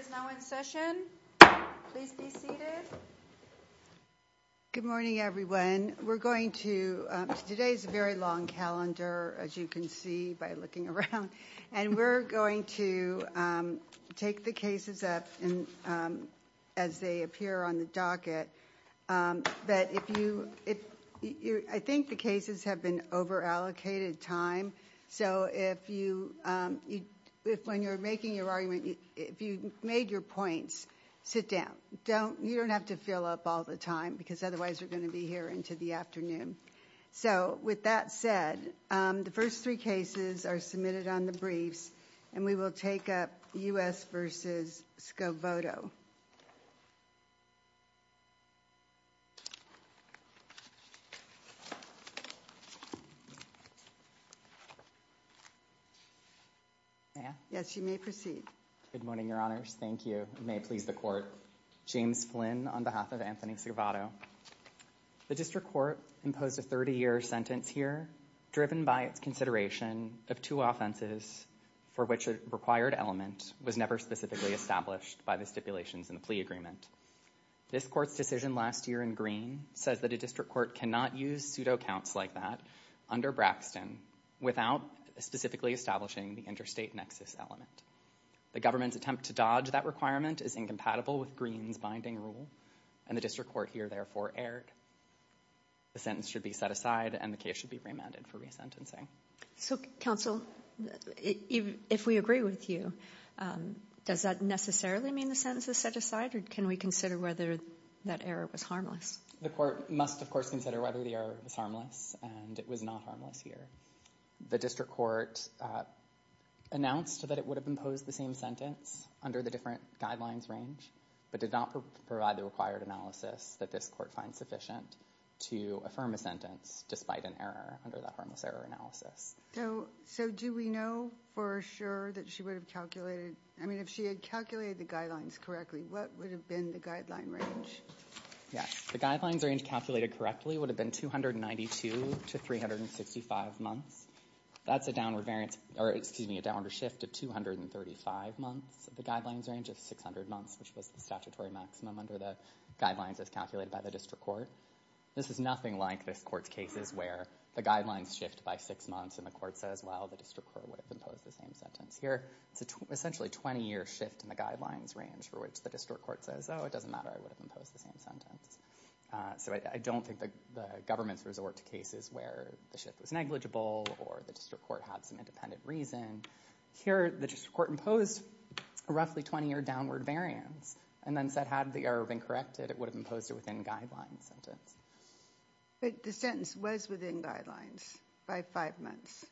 is now in session. Please be seated. Good morning, everyone. We're going to today's very long calendar, as you can see by looking around, and we're going to, um, take the cases up and, um, as they appear on the docket, um, that if you if you I think the cases have been over allocated time. So if you, um, if when you're making your argument, if you made your points, sit down, don't you don't have to fill up all the time because otherwise we're going to be here into the afternoon. So with that said, the first three cases are submitted on the briefs, and we will take up U.S. versus Scovotto. Yes, you may proceed. Good morning, Your Honors. Thank you. May it please the court. James Flynn on behalf of Anthony Scovotto. The district court imposed a 30 year sentence here, driven by its consideration of two offenses for which a required element was never specifically established by the stipulations in the plea agreement. This court's decision last year in Greene says that a district court cannot use pseudo counts like that under Braxton without specifically establishing the interstate nexus element. The government's attempt to dodge that requirement is incompatible with Greene's binding rule, and the district court here therefore erred. The sentence should be set aside, and the case should be remanded for resentencing. So, counsel, if we agree with you, does that necessarily mean the sentence is set aside, or can we consider whether that error was harmless? The court must, of course, consider whether the error was harmless, and it was not harmless here. The district court announced that it would have imposed the same sentence under the different guidelines range, but did not provide the required analysis that this court finds sufficient to affirm a sentence despite an error under that harmless error analysis. So, do we know for sure that she would have calculated, I mean, if she had calculated the guidelines correctly, what would have been the guideline range? Yes, the guidelines range calculated correctly would have been 292 to 365 months. That's a downward shift to 235 months. The guidelines range is 600 months, which was the statutory maximum under the guidelines as calculated by the district court. This is nothing like this court's cases where the guidelines shift by six months, and the court says, well, the district court would have imposed the same sentence. Here, it's essentially a 20-year shift in the guidelines range for which the district court says, oh, it doesn't matter, I would have imposed the same sentence. So, I don't think the government's resort to cases where the shift was negligible or the district court had some independent reason. Here, the district court imposed a roughly 20-year downward variance and then said, had the error been corrected, it would have imposed it within guidelines. But the sentence was within guidelines by five months.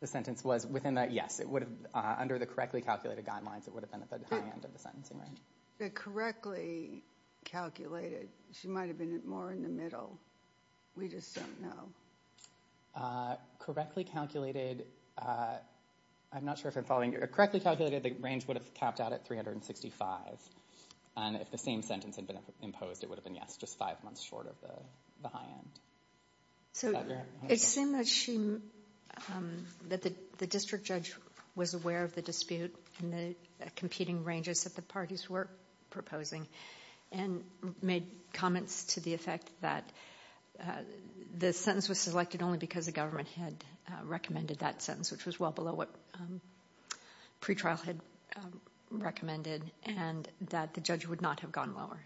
The sentence was within that, yes, it would have, under the correctly calculated guidelines, it would have been at the high end of the sentencing range. The correctly calculated, she might have been more in the middle. We just don't know. Correctly calculated, I'm not sure if I'm following, correctly calculated, the range would have capped out at 365. And if the same sentence had been imposed, it would have been, yes, just five months short of the high end. So, it seemed that the district judge was aware of the dispute and the competing ranges that the parties were proposing and made comments to the effect that the sentence was selected only because the government had recommended that sentence, which was well below what pretrial had recommended and that the judge would not have gone lower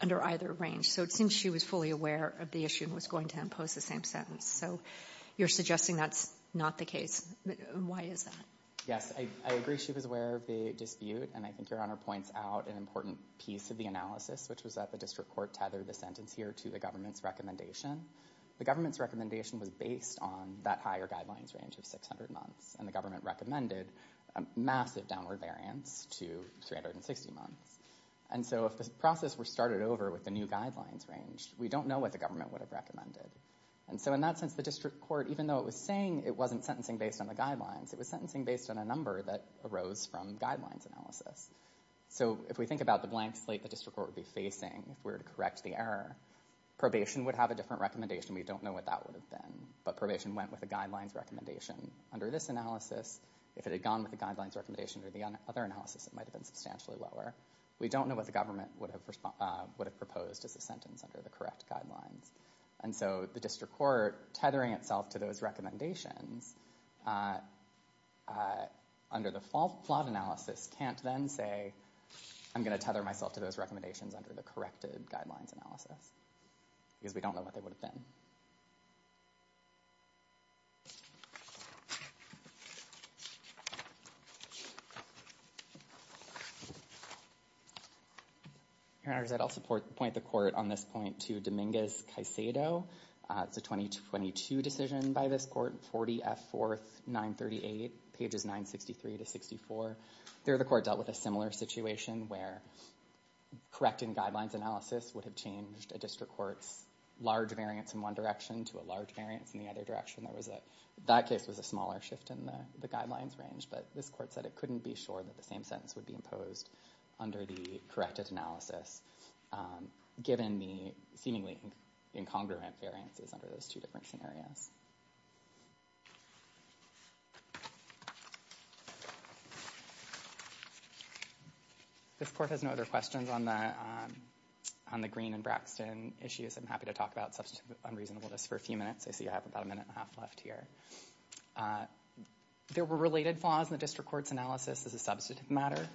under either range. So, it seems she was fully aware of the issue and was going to impose the same sentence. So, you're suggesting that's not the case. Why is that? Yes, I agree she was aware of the dispute and I think Your Honor points out an important piece of the analysis, which was that the district court tethered the sentence here to the government's recommendation. The government's recommendation was based on that higher guidelines range of 600 months and the government recommended a massive downward variance to 360 months. And so, if this process were started over with the new guidelines range, we don't know what the government would have recommended. And so, in that sense, the district court, even though it was saying it wasn't sentencing based on the guidelines, it was sentencing based on a number that arose from guidelines analysis. So, if we think about the blank slate the district court would be facing, if we were to correct the error, probation would have a different recommendation. We don't know what that would have been, but probation went with the guidelines recommendation. Under this analysis, if it had gone with the guidelines recommendation or the other analysis, it might have been substantially lower. We don't know what the government would have proposed as a sentence under the correct guidelines. And so, the district court tethering itself to those recommendations under the flawed analysis can't then say, I'm going to tether myself to those recommendations under the corrected guidelines analysis, because we don't know what they would have been. Your Honor, I'll point the court on this point to Dominguez-Caicedo. It's a 2022 decision by this court, 40 F. 4th, 938, pages 963 to 64. There the court dealt with a similar situation where correcting guidelines analysis would have changed a district court's large variance in one direction to a large variance in the other direction. That case was a smaller shift in the guidelines range, but this court said it couldn't be sure that the same sentence would be imposed under the corrected analysis, given the seemingly incongruent variances under those two different scenarios. This court has no other questions on the Green and Braxton issues. I'm happy to talk about substantive unreasonableness for a few minutes. I see I have about a minute and a half left here. There were related flaws in the district court's analysis as a substantive matter.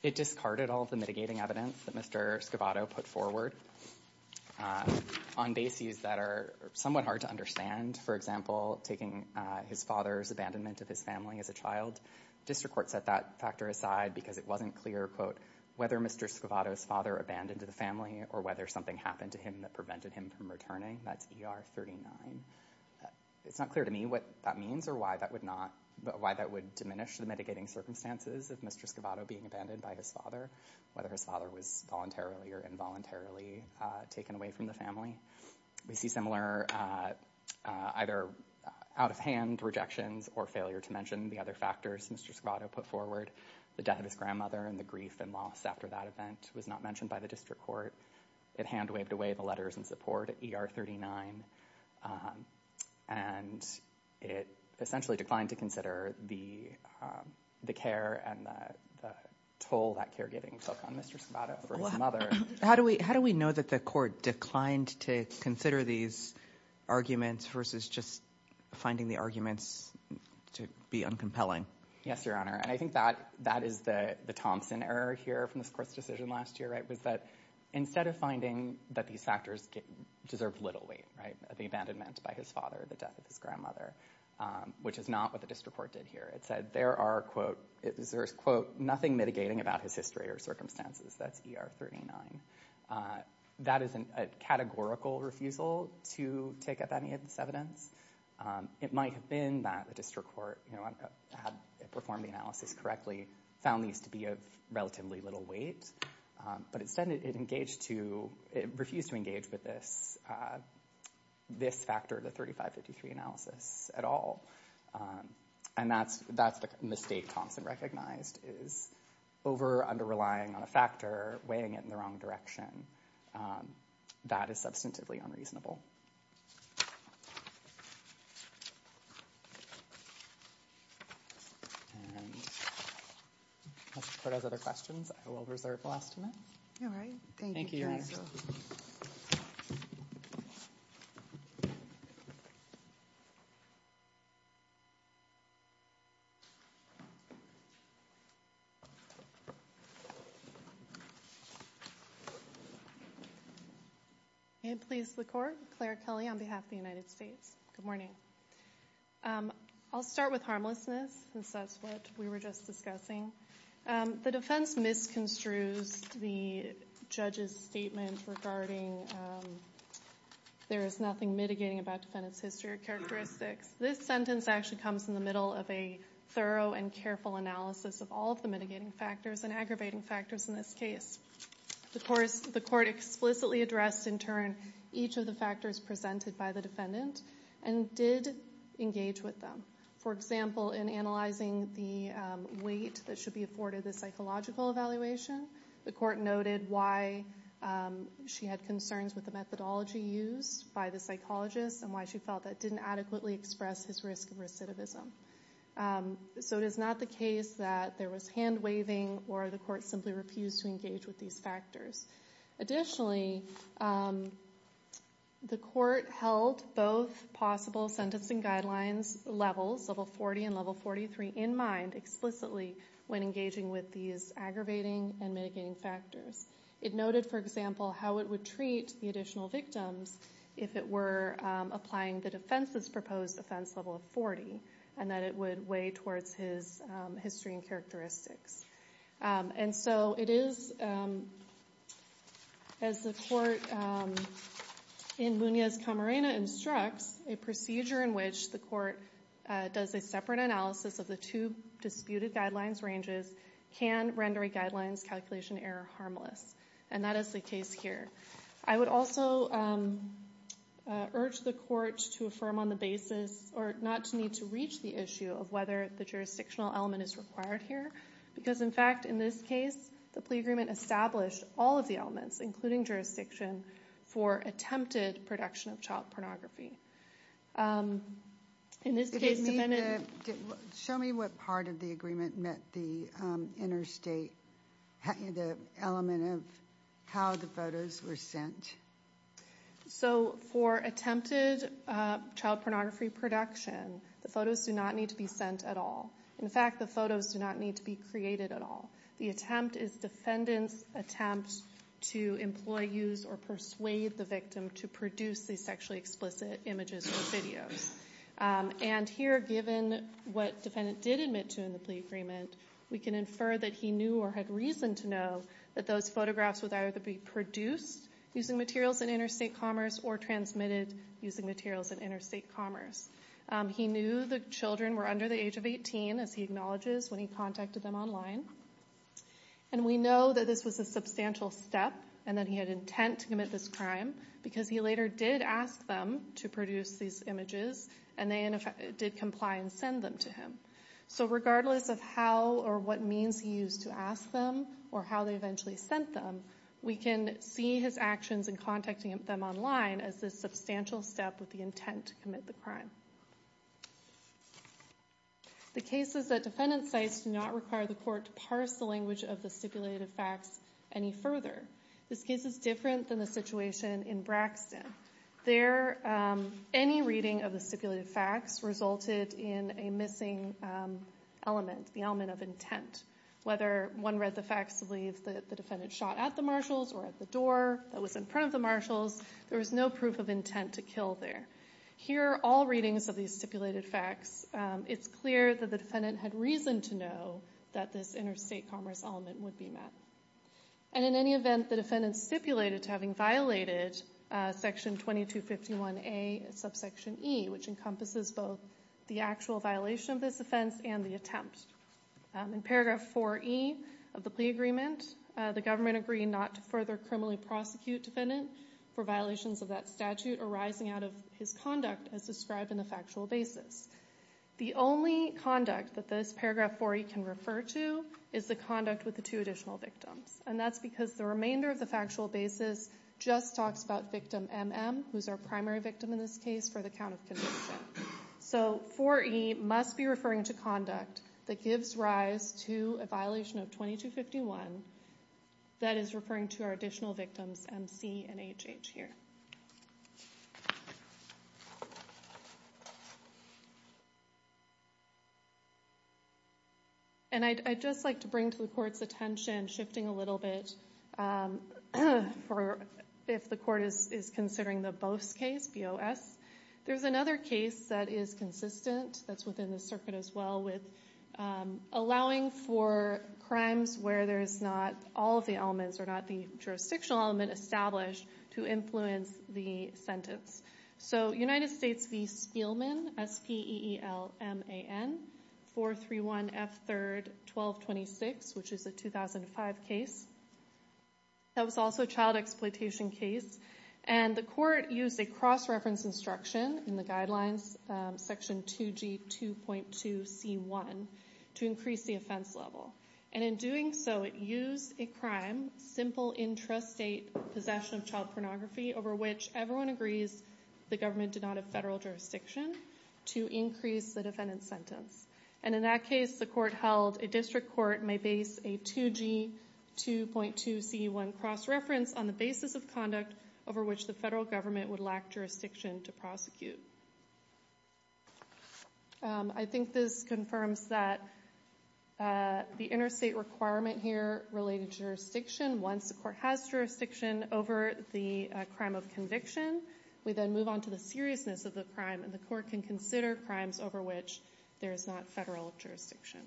It discarded all the mitigating evidence that Mr. Scavato put forward on bases that are somewhat hard to understand. For example, taking his father's abandonment of his family as a child. District court set that factor aside because it wasn't clear, quote, whether Mr. Scavato's father abandoned the family or whether something happened to him that prevented him from returning. That's ER 39. It's not clear to me what that means or why that would not, why that would diminish the mitigating circumstances of Mr. Scavato being abandoned by his father, whether his father was voluntarily or involuntarily taken away from the family. We see similar either out-of-hand rejections or failure to mention the other factors Mr. Scavato put forward. The death of his grandmother and the grief and loss after that event was not mentioned by the district court. It hand-waved away the letters and support at ER 39. And it essentially declined to consider the care and the toll that caregiving took on Mr. Scavato for his mother. How do we know that the court declined to consider these arguments versus just finding the arguments to be uncompelling? Yes, Your Honor. And I think that is the Thompson error here from this court's decision last year, right, was that instead of finding that these factors deserved little weight, right, the abandonment by his father, the death of his grandmother, which is not what the district court did here. It said there are, quote, there's, quote, nothing mitigating about his history or circumstances. That's ER 39. That is a categorical refusal to take up any of this evidence. It might have been that the district court, you know, had performed the analysis correctly, found these to be of relatively little weight. But instead it engaged to, it refused to engage with this, this factor, the 3553 analysis at all. And that's, that's the mistake Thompson recognized, is over under relying on a factor, weighing it in the wrong direction. That is substantively unreasonable. And if the court has other questions, I will reserve the last two minutes. All right. Thank you, Your Honor. May it please the court. Claire Kelly on behalf of the United States. Good morning. I'll start with that's what we were just discussing. The defense misconstrues the judge's statement regarding there is nothing mitigating about defendant's history or characteristics. This sentence actually comes in the middle of a thorough and careful analysis of all of the mitigating factors and aggravating factors in this case. Of course, the court explicitly addressed in turn each of the factors presented by the defendant and did engage with them. For example, in analyzing the weight that should be afforded the psychological evaluation, the court noted why she had concerns with the methodology used by the psychologist and why she felt that didn't adequately express his risk of recidivism. So it is not the case that there was hand waving or the court simply refused to engage with these factors. Additionally, the court held both possible sentencing guidelines levels, level 40 and level 43 in mind explicitly when engaging with these aggravating and mitigating factors. It noted, for example, how it would treat the additional victims if it were applying the defense's proposed offense level of 40 and that it would weigh towards his history and characteristics. And so it is, as the court in Munez-Camarena instructs, a procedure in which the court does a separate analysis of the two disputed guidelines ranges can render a guidelines calculation error harmless. And that is the case here. I would also urge the court to affirm on the basis or not to need to reach the issue of whether the jurisdictional element is required here. Because, in fact, in this case, the plea agreement established all of the elements, including jurisdiction, for attempted production of child pornography. In this case, defendant... Show me what part of the agreement met the interstate, the element of how the photos were sent. So for attempted child pornography production, the photos do not need to be sent at all. In fact, the photos do not need to be created at all. The attempt is defendant's attempt to employ, use, or persuade the victim to produce these sexually explicit images or videos. And here, given what defendant did admit to in the plea agreement, we can infer that he knew or had reason to know that those photographs would either be produced using materials in interstate commerce or transmitted using materials in interstate commerce. He knew the children were under the age of 18, as he acknowledges, when he contacted them online. And we know that this was a substantial step and that he had intent to commit this crime because he later did ask them to produce these images and they did comply and send them to him. So regardless of how or what means he used to ask them or how they eventually sent them, we can see his actions in contacting them online as this substantial step with the intent to commit the crime. The case is that defendant's sites do not require the court to parse the language of the stipulated facts any further. This case is different than the situation in Braxton. Any reading of the stipulated facts resulted in a missing element, the element of intent. Whether one read the facts to believe the defendant shot at the marshals or at the door that was in front of the marshals, there was no proof of intent to kill there. Here are all readings of these stipulated facts. It's clear that the defendant had reason to know that this interstate commerce element would be met. And in any event, the defendant stipulated to having violated section 2251A subsection E, which encompasses both the actual violation of this offense and the attempt. In paragraph 4E of the plea agreement, the government agreed not to further criminally prosecute defendant for violations of that statute arising out of his conduct as described in the factual basis. The only conduct that this paragraph 4E can refer to is the conduct with the two additional victims. And that's because the remainder of the factual basis just talks about victim MM, who's our primary victim in this case, for the count of conviction. So 4E must be referring to conduct that gives rise to a violation of 2251 that is referring to our additional victims MC and HH here. And I'd just like to bring to the court's attention, shifting a little bit, if the court is considering the Boas case, B-O-S, there's another case that is consistent that's within the circuit as well with allowing for crimes where there's not all of the elements or not the jurisdictional element established to influence the sentence. So United States v. Spielman, S-P-E-E-L-M-A-N, 431 F. 3rd, 1226, which is a 2005 case. That was also a child exploitation case. And the court used a cross-reference instruction in the guidelines, section 2G 2.2 C1, to increase the offense level. And in doing so, it used a crime, simple intrastate possession of child pornography, over which everyone agrees the government did not have federal jurisdiction, to increase the defendant's sentence. And in that case, the court held a district court may base a 2G 2.2 C1 cross-reference on the basis of conduct over which the federal government would lack jurisdiction to prosecute. I think this confirms that the interstate requirement here related to jurisdiction, once the court has jurisdiction over the crime of conviction, we then move on to the seriousness of the crime, and the court can consider crimes over which there is not federal jurisdiction.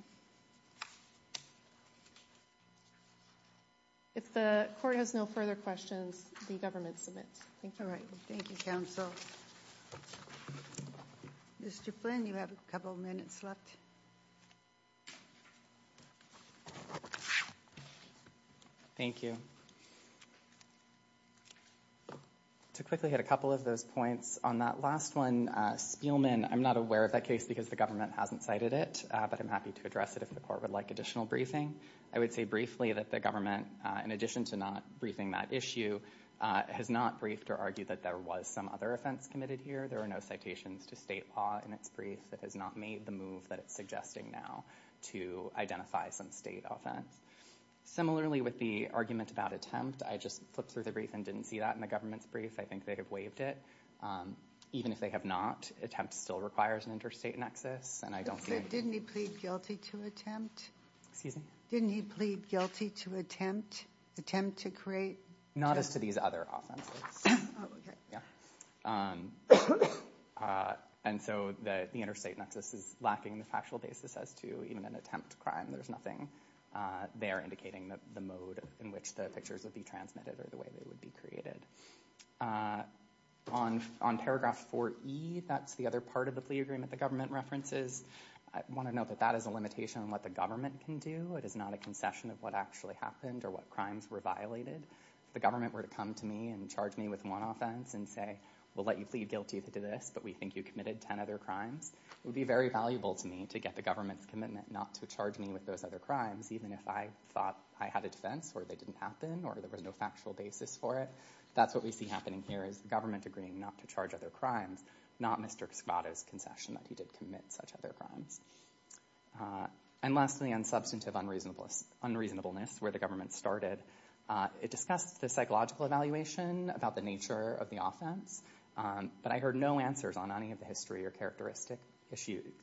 If the court has no further questions, the hearing is adjourned. Thank you. Mr. Flynn, you have a couple minutes left. Thank you. To quickly hit a couple of those points, on that last one, Spielman, I'm not aware of that case because the government hasn't cited it, but I'm happy to address it if the court would like additional briefing. I would say briefly that the government, in addition to not briefing that issue, has not briefed or argued that there was some other offense committed here. There are no citations to state law in its brief that has not made the move that it's suggesting now to identify some state offense. Similarly, with the argument about attempt, I just flipped through the brief and didn't see that in the government's brief. I think they would have waived it. Even if they have not, attempt still requires an interstate nexus. Didn't he plead guilty to attempt? Excuse me? Didn't he plead guilty to attempt? Attempt to create? Not as to these other offenses. Oh, okay. Yeah. The interstate nexus is lacking the factual basis as to even an attempt crime. There's nothing there indicating the mode in which the pictures would be transmitted or the way they would be created. On paragraph 4E, that's the other part of the plea agreement the government references. I want to note that that is a limitation on what the government can do. It is not a concession of what actually happened or what crimes were violated. If the government were to come to me and charge me with one offense and say, we'll let you plead guilty to this, but we think you committed ten other crimes, it would be very valuable to me to get the government's commitment not to charge me with those other crimes, even if I thought I had a defense or they didn't happen or there was no factual basis for it. That's what we see happening here is the government agreeing not to charge other crimes, not Mr. Escobedo's concession that he did commit such other crimes. And lastly, on substantive unreasonableness, where the government started, it discussed the psychological evaluation about the nature of the offense, but I heard no answers on any of the history or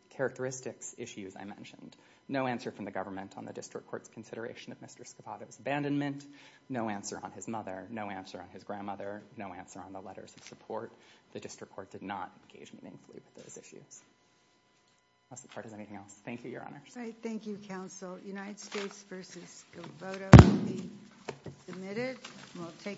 characteristics issues I mentioned. No answer from the government on the district court's consideration of Mr. Escobedo's abandonment, no answer on his mother, no answer on his grandmother, no answer on the letters of support. The district court did not engage meaningfully with those issues. Unless the court has anything else. Thank you, Your Honor. Thank you, counsel. United States v. Escobedo will be submitted.